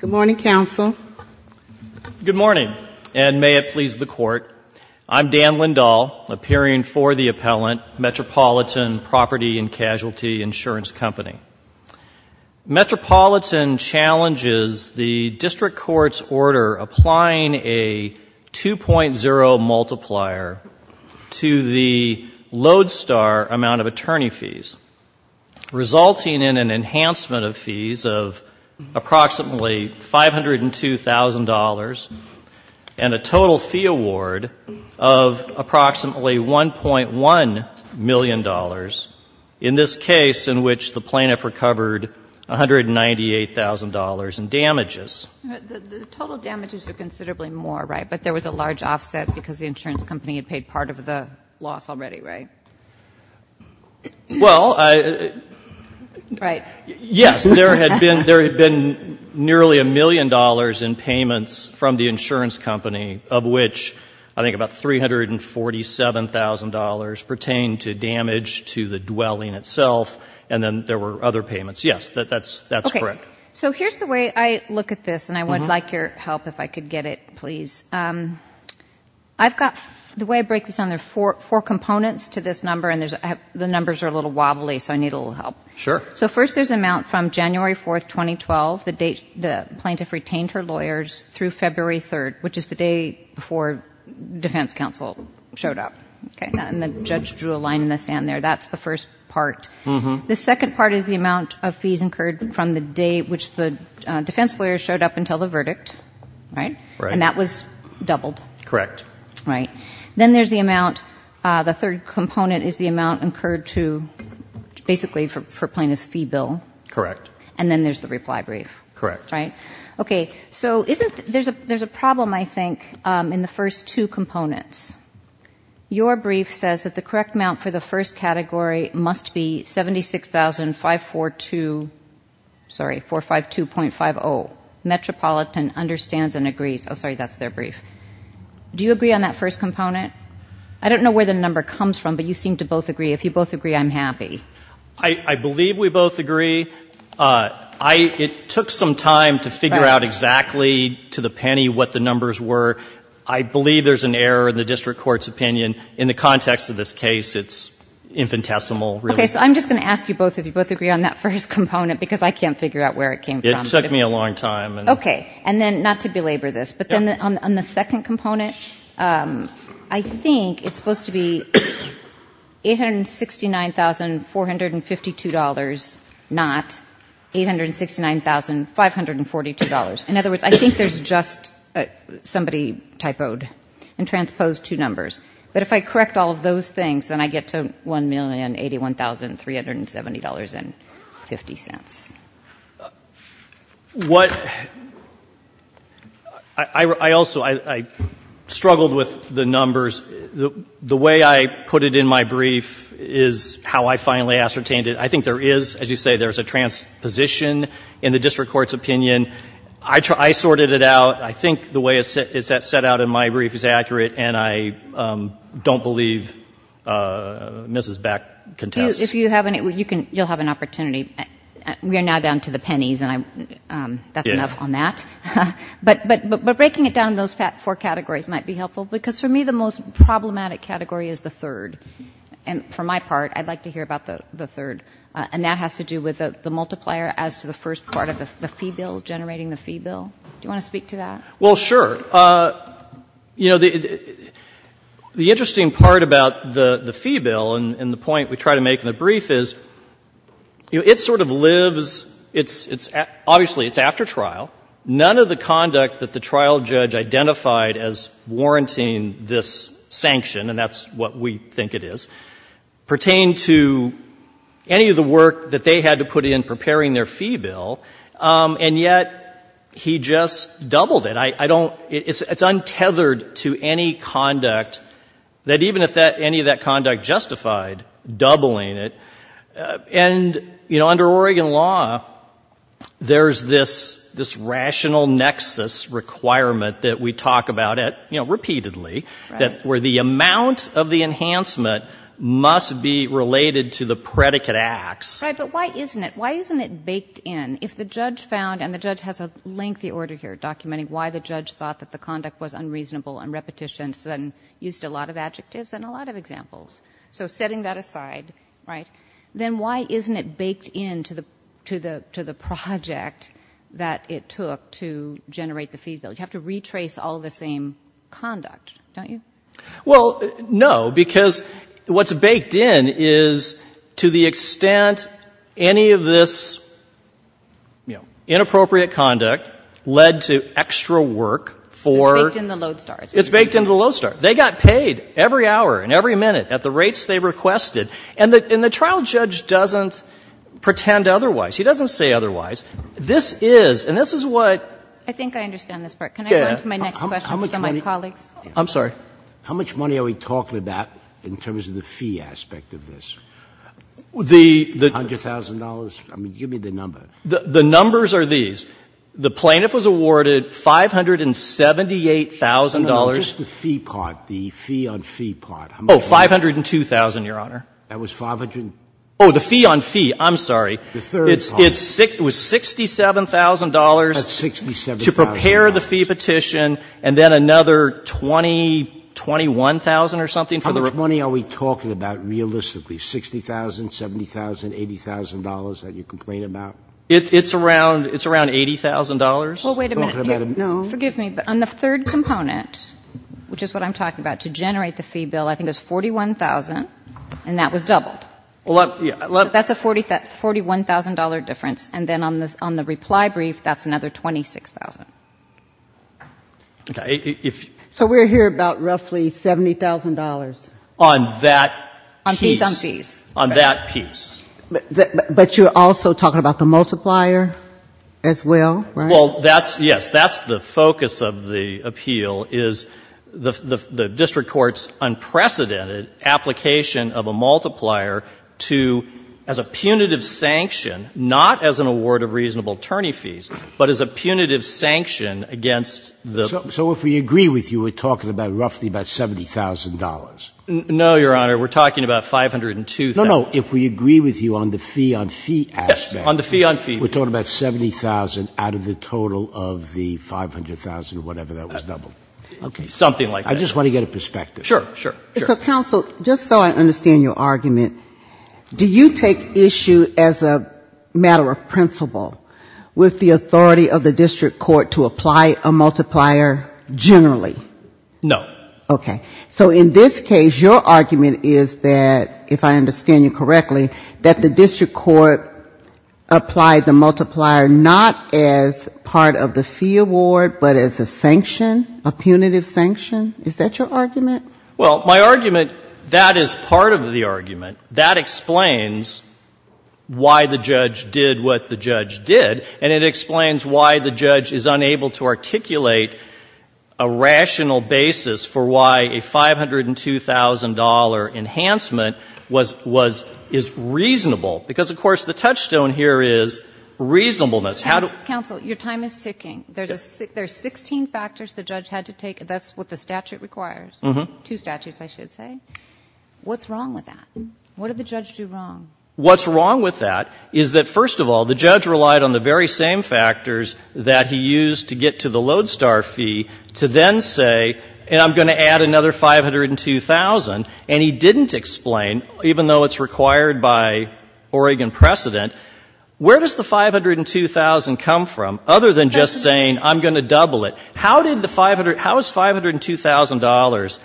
Good morning, and may it please the Court. I'm Dan Lindahl, appearing for the appellant, Metropolitan Prop. & Cas. Ins. Metropolitan challenges the District Court's order applying a 2.0 multiplier to the approximately $502,000 and a total fee award of approximately $1.1 million in this case in which the plaintiff recovered $198,000 in damages. The total damages are considerably more, right? But there was a large offset because the insurance company had paid part of the loss already, right? Well, I... Right. Yes, there had been nearly a million dollars in payments from the insurance company, of which I think about $347,000 pertained to damage to the dwelling itself, and then there were other payments. Yes, that's correct. Okay. So here's the way I look at this, and I would like your help if I could get it, please. I've got The way I break this down, there are four components to this number, and the numbers are a little wobbly, so I need a little help. Sure. So first, there's an amount from January 4, 2012, the date the plaintiff retained her lawyers, through February 3, which is the day before defense counsel showed up, okay? And the judge drew a line in the sand there. That's the first part. Mm-hmm. The second part is the amount of fees incurred from the day which the defense lawyers showed up until the verdict, right? Right. And that was doubled. Correct. Right. Then there's the amount, the third component is the amount incurred to, basically, for plaintiff's fee bill. Correct. And then there's the reply brief. Correct. Right? Okay. So there's a problem, I think, in the first two components. Your brief says that the correct amount for the first category must be $76,000, 452.50, Metropolitan understands and agrees. Oh, do you agree on that first component? I don't know where the number comes from, but you seem to both agree. If you both agree, I'm happy. I believe we both agree. It took some time to figure out exactly, to the penny, what the numbers were. I believe there's an error in the district court's opinion. In the context of this case, it's infinitesimal, really. Okay. So I'm just going to ask you both if you both agree on that first component, because I can't figure out where it came from. It took me a long time. Okay. And then, not to belabor this, but then on the second component, I think it's supposed to be $869,452, not $869,542. In other words, I think there's just somebody typoed and transposed two numbers. But if I correct all of those things, then I get to $1,081,370.50. What — I also — I struggled with the numbers. The way I put it in my brief is how I finally ascertained it. I think there is, as you say, there's a transposition in the district court's opinion. I sorted it out. I think the way it's set out in my brief is accurate, and I don't believe Mrs. Back contests. You'll have an opportunity. We are now down to the pennies, and that's enough on that. But breaking it down in those four categories might be helpful, because for me the most problematic category is the third. And for my part, I'd like to hear about the third. And that has to do with the multiplier as to the first part of the fee bill, generating the fee bill. Do you want to speak to that? Well, sure. You know, the interesting part about the fee bill and the point we try to make in the brief is, you know, it sort of lives — it's — obviously, it's after trial. None of the conduct that the trial judge identified as warranting this sanction, and that's what we think it is, pertained to any of the work that they had to put in preparing their fee bill, and yet he just doubled it. I don't — it's untethered to any conduct that even if that — any of that conduct justified doubling it. And, you know, under Oregon law, there's this — this rational nexus requirement that we talk about at — you know, repeatedly, that — where the amount of the enhancement must be related to the predicate acts. Right. But why isn't it — why isn't it baked in? If the judge found — and the judge has a lengthy order here documenting why the judge thought that the conduct was unreasonable on repetitions and used a lot of adjectives and a lot of examples. So setting that aside, right, then why isn't it baked in to the — to the project that it took to generate the fee bill? You have to retrace all the same conduct, don't you? Well, no, because what's baked in is to the extent any of this, you know, inappropriate conduct led to extra work for — It's baked in the lodestar. It's baked in the lodestar. They got paid every hour and every minute at the rates they requested. And the — and the trial judge doesn't pretend otherwise. He doesn't say otherwise. This is — and this is what — I think I understand this part. Yeah. Can I go into my next question for some of my colleagues? I'm sorry. How much money are we talking about in terms of the fee aspect of this? The — The $100,000? I mean, give me the number. The numbers are these. The plaintiff was awarded $578,000. No, no, no. Just the fee part. The fee on fee part. How much was that? Oh, $502,000, Your Honor. That was 500 — Oh, the fee on fee. I'm sorry. It's — it was $67,000. That's $67,000. To prepare the fee petition and then another $20,000, $21,000 or something for the — How much money are we talking about realistically? $60,000, $70,000, $80,000 that you complain about? It's around — it's around $80,000. Well, wait a minute. No. Forgive me, but on the third component, which is what I'm talking about, to generate the fee bill, I think it was $41,000, and that was doubled. Well, that — So that's a $41,000 difference, and then on the reply brief, that's another $26,000. Okay. If — So we're here about roughly $70,000. On that piece. On fees on fees. On that piece. But you're also talking about the multiplier as well, right? Well, that's — yes. That's the focus of the appeal, is the district court's unprecedented application of a multiplier to — as a punitive sanction, not as an award of reasonable attorney fees, but as a punitive sanction against the — So if we agree with you, we're talking about roughly about $70,000. No, Your Honor. We're talking about $502,000. No, no. If we agree with you on the fee-on-fee aspect — Yes. On the fee-on-fee. We're talking about $70,000 out of the total of the $500,000, whatever that was doubled. Okay. Something like that. I just want to get a perspective. Sure. Sure. Sure. So, counsel, just so I understand your argument, do you take issue as a matter of principle with the authority of the district court to apply a multiplier generally? No. Okay. So in this case, your argument is that, if I understand you correctly, that the district court applied the multiplier not as part of the fee award, but as a sanction, a punitive sanction. Is that your argument? Well, my argument — that is part of the argument. That explains why the judge did what the judge did, and it explains why the judge is unable to articulate a rational basis for why a $502,000 enhancement was — is reasonable. Because, of course, the touchstone here is reasonableness. Counsel, your time is ticking. Yes. There's 16 factors the judge had to take. That's what the statute requires. Mm-hmm. Two statutes, I should say. What's wrong with that? What did the judge do wrong? What's wrong with that is that, first of all, the judge relied on the very same factors that he used to get to the Lodestar fee to then say, and I'm going to add another $502,000, and he didn't explain, even though it's required by Oregon precedent, where does the $502,000 come from, other than just saying, I'm going to double it. How did the — how is $502,000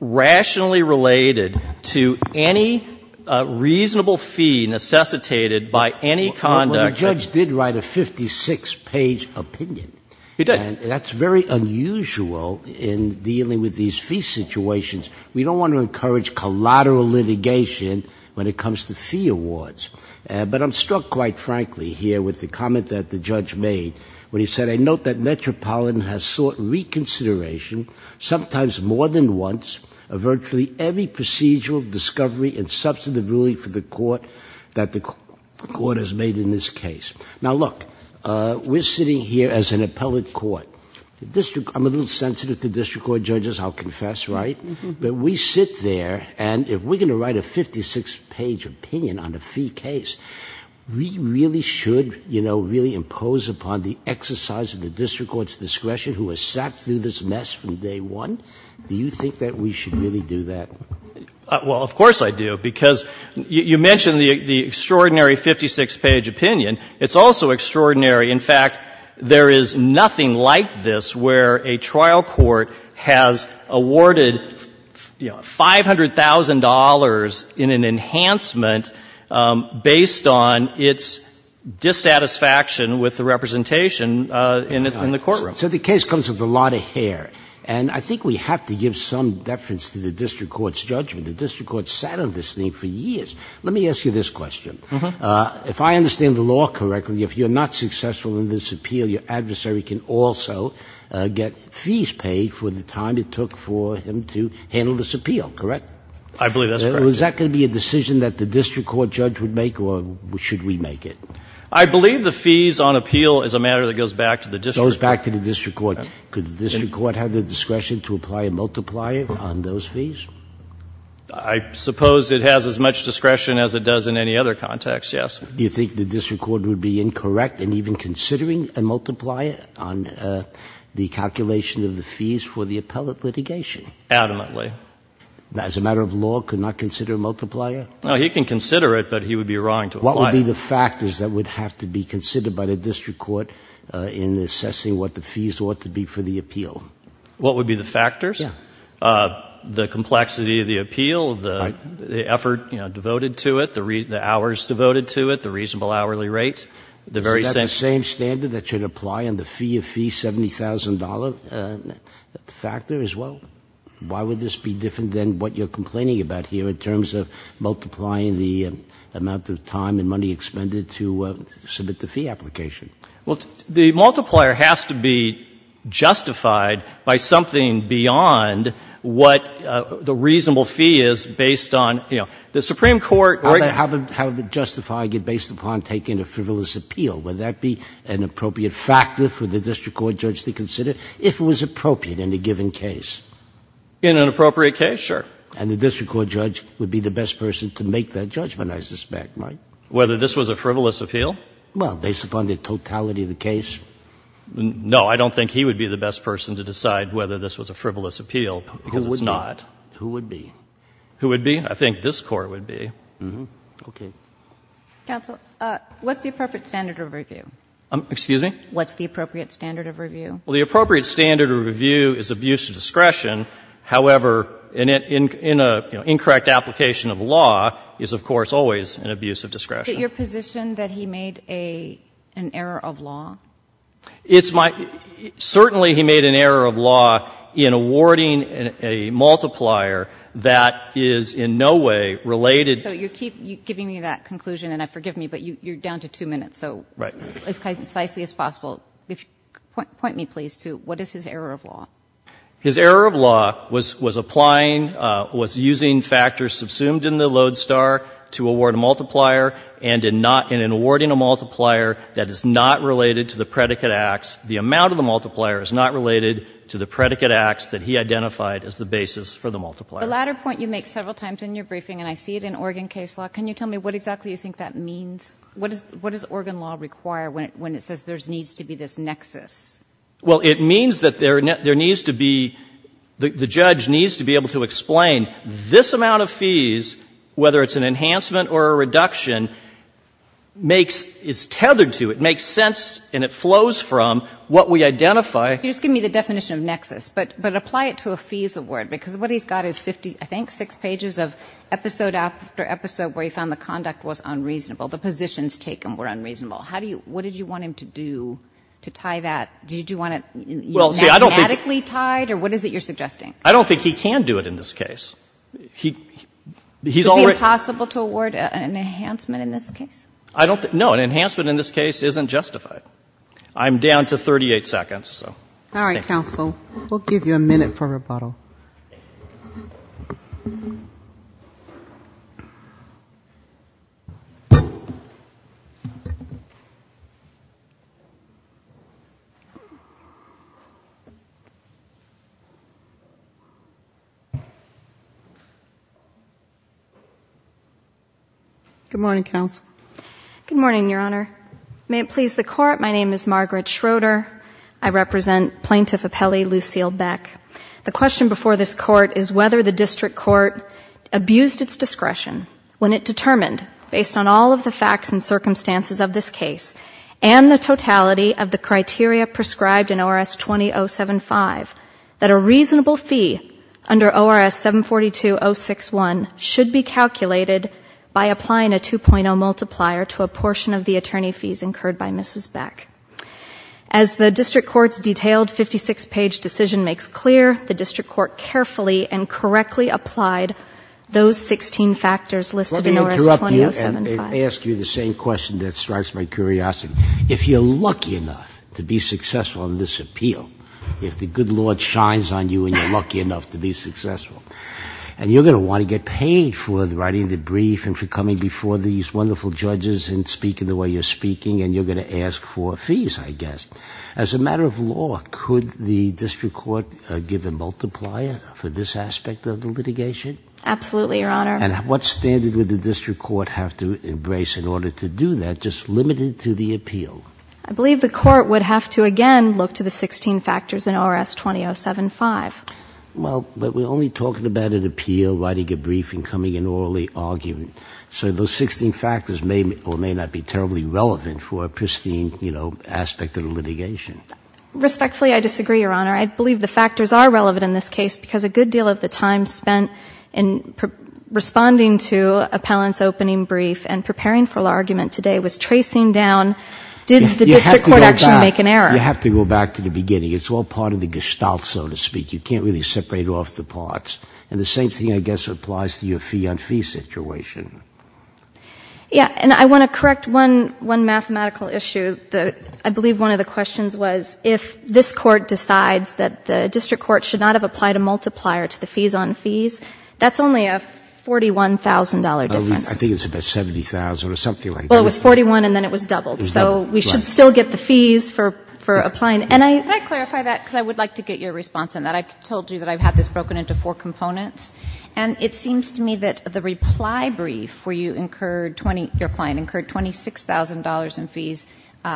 rationally related to any reasonable fee necessitated by any conduct that — Well, the judge did write a 56-page opinion. He did. And that's very unusual in dealing with these fee situations. We don't want to encourage collateral litigation when it comes to fee awards. But I'm struck, quite frankly, here with the comment that the judge made when he said, I note that Metropolitan has sought reconsideration, sometimes more than once, of virtually every procedural discovery and substantive ruling for the court that the court has made in this case. Now, look, we're sitting here as an appellate court. I'm a little sensitive to district court judges, I'll confess, right? But we sit there, and if we're going to write a 56-page opinion on a fee case, we really should, you know, really impose upon the exercise of the district court's discretion who has sat through this mess from day one. Do you think that we should really do that? Well, of course I do, because you mentioned the extraordinary 56-page opinion. It's also extraordinary, in fact, there is nothing like this where a trial court has awarded, you know, $500,000 in an enhancement based on its dissatisfaction with the representation in the courtroom. So the case comes with a lot of hair. And I think we have to give some deference to the district court's judgment. The district court sat on this thing for years. Let me ask you this question. If I understand the law correctly, if you're not successful in this appeal, your adversary can also get fees paid for the time it took for him to handle this appeal, correct? I believe that's correct. So is that going to be a decision that the district court judge would make, or should we make it? I believe the fees on appeal is a matter that goes back to the district court. Goes back to the district court. Could the district court have the discretion to apply a multiplier on those fees? I suppose it has as much discretion as it does in any other context, yes. Do you think the district court would be incorrect in even considering a multiplier on the calculation of the fees for the appellate litigation? Adamantly. As a matter of law, could not consider a multiplier? No, he can consider it, but he would be wrong to apply it. What would be the factors that would have to be considered by the district court in assessing what the fees ought to be for the appeal? What would be the factors? Yeah. The complexity of the appeal, the effort devoted to it, the hours devoted to it, the reasonable hourly rate. Is that the same standard that should apply on the fee of fee $70,000 factor as well? Why would this be different than what you're complaining about here in terms of multiplying the amount of time and money expended to submit the fee application? Well, the multiplier has to be justified by something beyond what the reasonable fee is based on, you know, the Supreme Court. How would the justifier get based upon taking a frivolous appeal? Would that be an appropriate factor for the district court judge to consider if it was appropriate in a given case? In an appropriate case, sure. And the district court judge would be the best person to make that judgment, I suspect, right? Whether this was a frivolous appeal? Well, based upon the totality of the case? No. I don't think he would be the best person to decide whether this was a frivolous appeal, because it's not. Who would be? Who would be? I think this Court would be. Okay. Counsel, what's the appropriate standard of review? Excuse me? What's the appropriate standard of review? Well, the appropriate standard of review is abuse of discretion. However, in a, you know, incorrect application of law is, of course, always an abuse of discretion. Is it your position that he made an error of law? It's my, certainly he made an error of law in awarding a multiplier that is in no way related. So you keep giving me that conclusion, and forgive me, but you're down to two minutes. Right. So as concisely as possible, point me, please, to what is his error of law? His error of law was applying, was using factors subsumed in the lodestar to award a multiplier and in not, in awarding a multiplier that is not related to the predicate acts, the amount of the multiplier is not related to the predicate acts that he identified as the basis for the multiplier. The latter point you make several times in your briefing, and I see it in Oregon case law. Can you tell me what exactly you think that means? What does Oregon law require when it says there needs to be this nexus? Well, it means that there needs to be, the judge needs to be able to explain this amount of fees, whether it's an enhancement or a reduction, makes, is tethered to, it makes sense and it flows from what we identify. You're just giving me the definition of nexus, but apply it to a fees award, because what he's got is 50, I think, six pages of episode after episode where he found the conduct was unreasonable, the positions taken were unreasonable. How do you, what did you want him to do to tie that? Did you want it mathematically tied, or what is it you're suggesting? I don't think he can do it in this case. He, he's already. Would it be impossible to award an enhancement in this case? I don't think, no, an enhancement in this case isn't justified. I'm down to 38 seconds, so. All right, counsel, we'll give you a minute for rebuttal. Good morning, counsel. Good morning, Your Honor. May it please the Court, my name is Margaret Schroeder. I represent Plaintiff Appelli Lucille Beck. The question before this Court is whether the district court abused its discretion when it determined, based on all of the facts and circumstances of this case, and the totality of the criteria prescribed in ORS 20075, that a reasonable fee under ORS 742-061 should be calculated by applying a 2.0 multiplier to a portion of the attorney fees incurred by Mrs. Beck. As the district court's detailed 56-page decision makes clear, the district court carefully and correctly applied those 16 factors listed in ORS 20075. Let me interrupt you and ask you the same question that strikes my curiosity. If you're lucky enough to be successful in this appeal, if the good Lord shines on you and you're lucky enough to be successful, and you're going to want to get paid for writing the brief and for coming before these wonderful judges and speaking the way you're speaking, and you're going to ask for fees, I guess. As a matter of law, could the district court give a multiplier for this aspect of the litigation? Absolutely, Your Honor. And what standard would the district court have to embrace in order to do that, just limited to the appeal? I believe the court would have to, again, look to the 16 factors in ORS 20075. Well, but we're only talking about an appeal, writing a brief, and coming in orally arguing. So those 16 factors may or may not be terribly relevant for a pristine, you know, aspect of the litigation. Respectfully, I disagree, Your Honor. I believe the factors are relevant in this case because a good deal of the time spent in responding to appellant's opening brief and preparing for the argument today was tracing down did the district court actually make an error. You have to go back to the beginning. It's all part of the gestalt, so to speak. You can't really separate off the parts. And the same thing, I guess, applies to your fee-on-fee situation. Yeah. And I want to correct one mathematical issue. I believe one of the questions was if this court decides that the district court should not have applied a multiplier to the fees-on-fees, that's only a $41,000 difference. I think it's about $70,000 or something like that. Well, it was $41,000, and then it was doubled. It was doubled, right. So we should still get the fees for applying. And I — Could I clarify that? Because I would like to get your response on that. I told you that I've had this broken into four components. And it seems to me that the reply brief where you incurred — your client incurred $26,000 in fees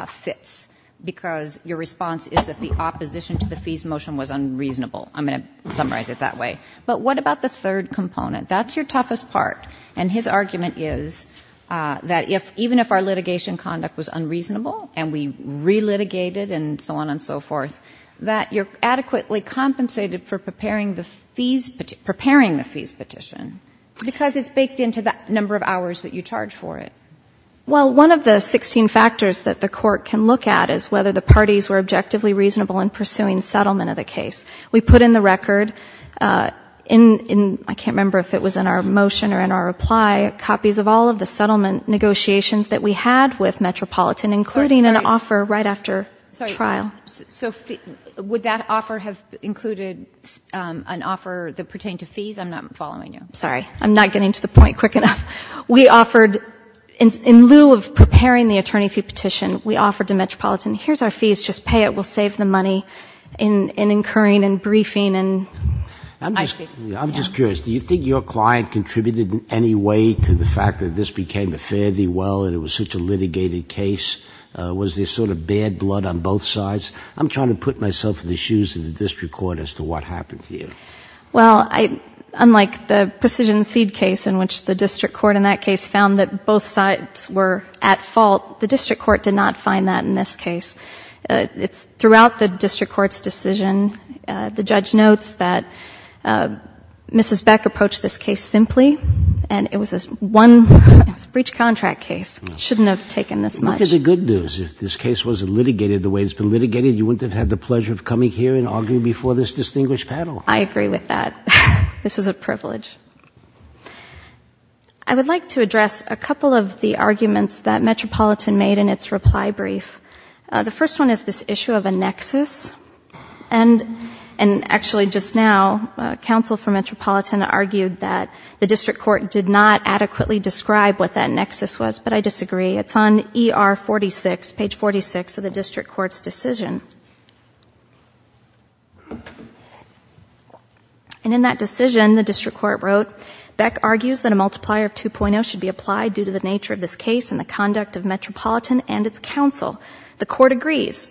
fits because your response is that the opposition to the fees motion was unreasonable. I'm going to summarize it that way. But what about the third component? That's your toughest part, and his argument is that even if our litigation conduct was unreasonable and we re-litigated and so on and so forth, that you're adequately compensated for preparing the fees petition, because it's baked into the number of hours that you charge for it. Well, one of the 16 factors that the court can look at is whether the parties were objectively reasonable in pursuing settlement of the case. We put in the record in — I can't remember if it was in our motion or in our reply — copies of all of the settlement negotiations that we had with Metropolitan, including an offer right after trial. So would that offer have included an offer that pertained to fees? I'm not following you. Sorry. I'm not getting to the point quick enough. We offered — in lieu of preparing the attorney fee petition, we offered to Metropolitan, here's our fees, just pay it, we'll save the money in incurring and briefing and — I'm just curious. Do you think your client contributed in any way to the fact that this became a fare-thee-well and it was such a litigated case? Was there sort of bad blood on both sides? I'm trying to put myself in the shoes of the district court as to what happened here. Well, unlike the Precision Seed case in which the district court in that case found that both sides were at fault, the district court did not find that in this case. Throughout the district court's decision, the judge notes that Mrs. Beck approached this case simply and it was a one-off breach contract case. It shouldn't have taken this much. That is the good news. If this case wasn't litigated the way it's been litigated, you wouldn't have had the pleasure of coming here and arguing before this distinguished panel. I agree with that. This is a privilege. I would like to address a couple of the arguments that Metropolitan made in its reply brief. The first one is this issue of a nexus. And actually, just now, counsel for Metropolitan argued that the district court did not adequately describe what that nexus was. But I disagree. It's on ER 46, page 46 of the district court's decision. And in that decision, the district court wrote, Beck argues that a multiplier of 2.0 should be applied due to the nature of this case and the conduct of Metropolitan and its counsel. The court agrees,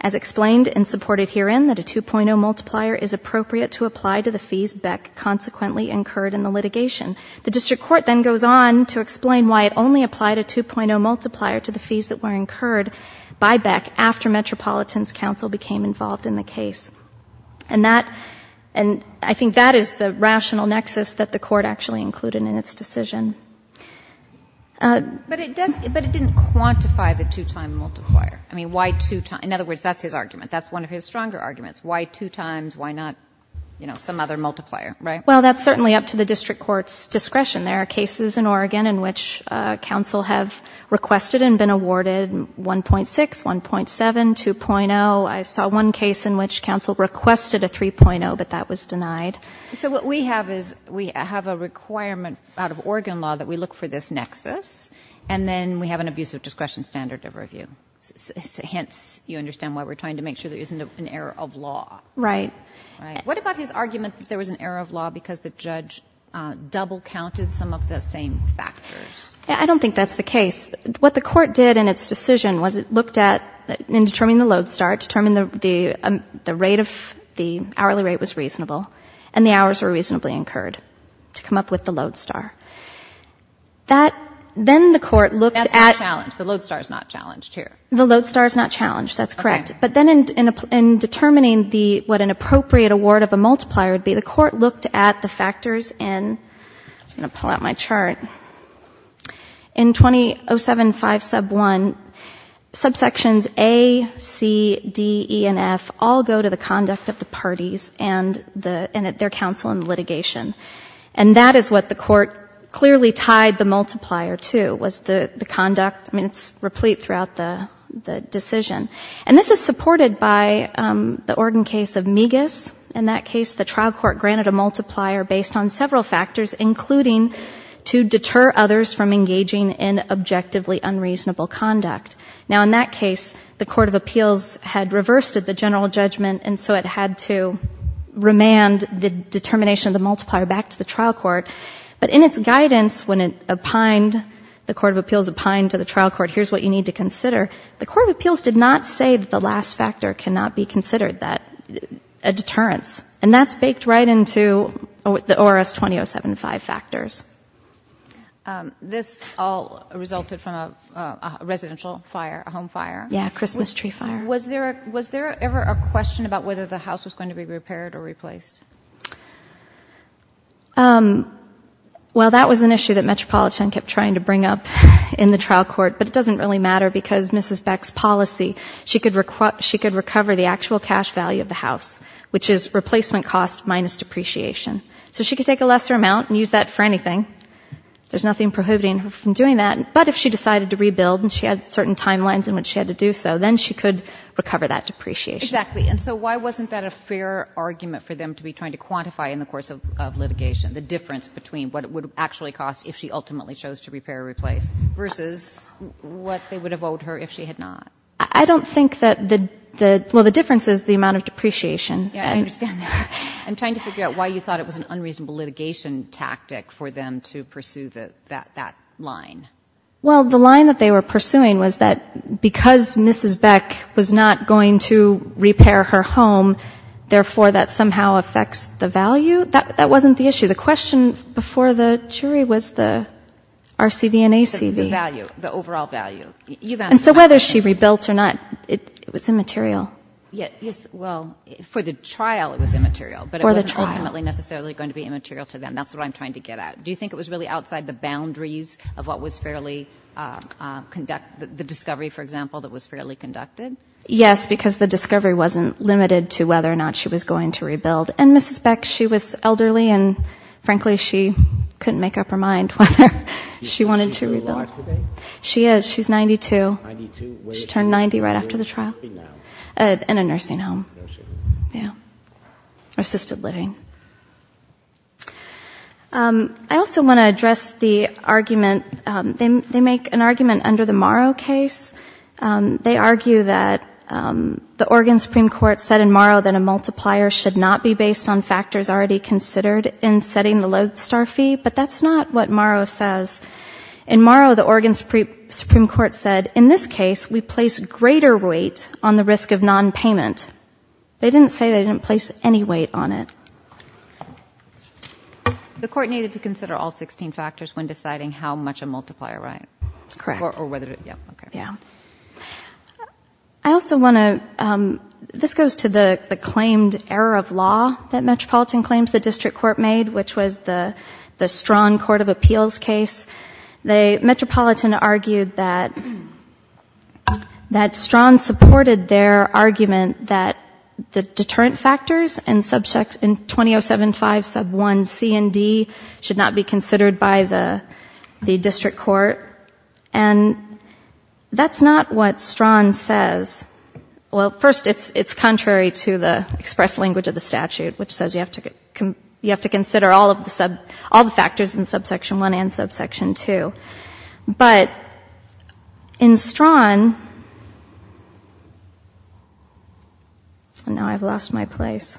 as explained and supported herein, that a 2.0 multiplier is appropriate to apply to the fees Beck consequently incurred in the litigation. The district court then goes on to explain why it only applied a 2.0 multiplier to the fees that were incurred by Beck after Metropolitan's counsel became involved in the case. And that — and I think that is the rational nexus that the court actually included in its decision. But it doesn't — but it didn't quantify the two-time multiplier. I mean, why two — in other words, that's his argument. That's one of his stronger arguments. Why two times? Why not, you know, some other multiplier, right? Well, that's certainly up to the district court's discretion. There are cases in Oregon in which counsel have requested and been awarded 1.6, 1.7, 2.0. I saw one case in which counsel requested a 3.0, but that was denied. So what we have is we have a requirement out of Oregon law that we look for this nexus, and then we have an abusive discretion standard of review. Hence, you understand why we're trying to make sure there isn't an error of law. Right. Right. What about his argument that there was an error of law because the judge double-counted some of the same factors? I don't think that's the case. What the court did in its decision was it looked at — in determining the load star, determined the rate of — the hourly rate was reasonable, and the hours were reasonably incurred to come up with the load star. That — then the court looked at — That's not challenged. The load star is not challenged here. The load star is not challenged. That's correct. Okay. But then in determining the — what an appropriate award of a multiplier would be, the court looked at the factors in — I'm going to pull out my chart. In 2007-5 sub 1, subsections A, C, D, E, and F all go to the conduct of the parties and their counsel in litigation. And that is what the court clearly tied the multiplier to, was the conduct. I mean, it's replete throughout the decision. And this is supported by the Oregon case of Migas. In that case, the trial court granted a multiplier based on several factors, including to deter others from engaging in objectively unreasonable conduct. Now, in that case, the court of appeals had reversed the general judgment, and so it had to remand the determination of the multiplier back to the trial court. But in its guidance, when it opined — the court of appeals opined to the trial court, here's what you need to consider, the court of appeals did not say that the last factor cannot be considered, that a deterrence. And that's baked right into the ORS 2007-5 factors. This all resulted from a residential fire, a home fire. Yeah, a Christmas tree fire. Was there ever a question about whether the house was going to be repaired or replaced? Well, that was an issue that Metropolitan kept trying to bring up in the trial court, but it doesn't really matter because Mrs. Beck's policy, she could recover the actual cash value of the house, which is replacement cost minus depreciation. So she could take a lesser amount and use that for anything. There's nothing prohibiting her from doing that. But if she decided to rebuild and she had certain timelines in which she had to do so, then she could recover that depreciation. Exactly. And so why wasn't that a fair argument for them to be trying to quantify in the course of litigation, the difference between what it would actually cost if she ultimately chose to repair or replace versus what they would have owed her if she had not? I don't think that the — well, the difference is the amount of depreciation. Yeah, I understand that. I'm trying to figure out why you thought it was an unreasonable litigation tactic for them to pursue that line. Well, the line that they were pursuing was that because Mrs. Beck was not going to repair her home, therefore that somehow affects the value. That wasn't the issue. The question before the jury was the RCV and ACV. The value, the overall value. And so whether she rebuilt or not, it was immaterial. Yes, well, for the trial it was immaterial. For the trial. But it wasn't ultimately necessarily going to be immaterial to them. That's what I'm trying to get at. Do you think it was really outside the boundaries of what was fairly — the discovery, for example, that was fairly conducted? Yes, because the discovery wasn't limited to whether or not she was going to rebuild. And Mrs. Beck, she was elderly and, frankly, she couldn't make up her mind whether she wanted to rebuild. Is she alive today? She is. She's 92. 92? She turned 90 right after the trial. Where is she now? In a nursing home. There she is. Yeah. Assisted living. I also want to address the argument. They make an argument under the Morrow case. They argue that the Oregon Supreme Court said in Morrow that a multiplier should not be based on factors already considered in setting the Lodestar fee. But that's not what Morrow says. In Morrow, the Oregon Supreme Court said, in this case, we place greater weight on the risk of nonpayment. They didn't say they didn't place any weight on it. The court needed to consider all 16 factors when deciding how much a multiplier, right? Correct. Yeah. Okay. Yeah. I also want to, this goes to the claimed error of law that Metropolitan claims the district court made, which was the Strachan Court of Appeals case. Metropolitan argued that Strachan supported their argument that the deterrent factors in 2007-5 sub 1 C and D should not be considered by the district court. And that's not what Strachan says. Well, first, it's contrary to the express language of the statute, which says you have to consider all of the factors in subsection 1 and subsection 2. But in Strachan, and now I've lost my place.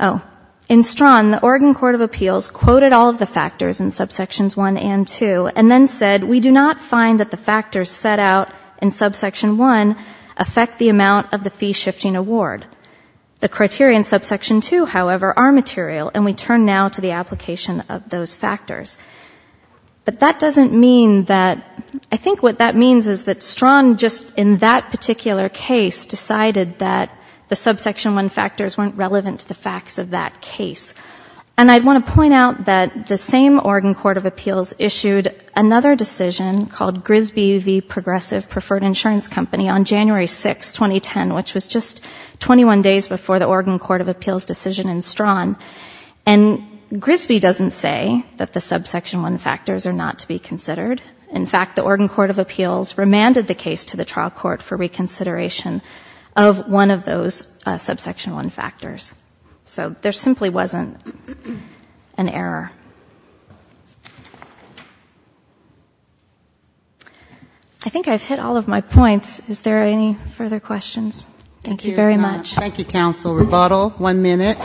Oh. In Strachan, the Oregon Court of Appeals quoted all of the factors in subsections 1 and 2 and then said, we do not find that the factors set out in subsection 1 affect the amount of the fee-shifting award. The criteria in subsection 2, however, are material, and we turn now to the application of those factors. But that doesn't mean that, I think what that means is that Strachan, just in that particular case, decided that the subsection 1 factors weren't relevant to the facts of that case. And I'd want to point out that the same Oregon Court of Appeals issued another decision called Grisby v. Progressive Preferred Insurance Company on January 6, 2010, which was just 21 days before the Oregon Court of Appeals decision in Strachan. And Grisby doesn't say that the subsection 1 factors are not to be considered. In fact, the Oregon Court of Appeals remanded the case to the trial court for reconsideration of one of those subsection 1 factors. So there simply wasn't an error. I think I've hit all of my points. Is there any further questions? Thank you very much. Thank you, counsel. Rebuttal, one minute.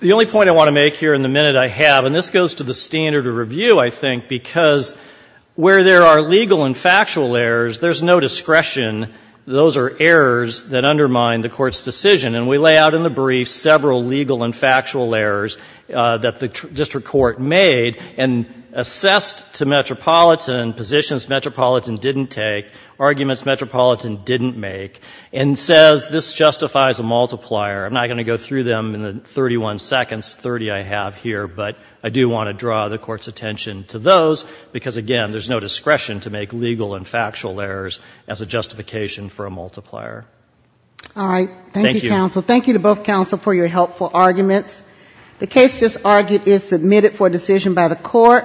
The only point I want to make here in the minute I have, and this goes to the standard of review, I think, because where there are legal and factual errors, there's no discretion. Those are errors that undermine the court's decision. And we lay out in the brief several legal and factual errors that the district court made and assessed to Metropolitan positions Metropolitan didn't take, arguments Metropolitan didn't make, and says this justifies a multiplier. I'm not going to go through them in the 31 seconds, 30 I have here, but I do want to draw the Court's attention to those, because, again, there's no discretion to make legal and factual errors as a justification for a multiplier. All right. Thank you, counsel. Thank you to both counsel for your helpful arguments. The case just argued is submitted for decision by the Court.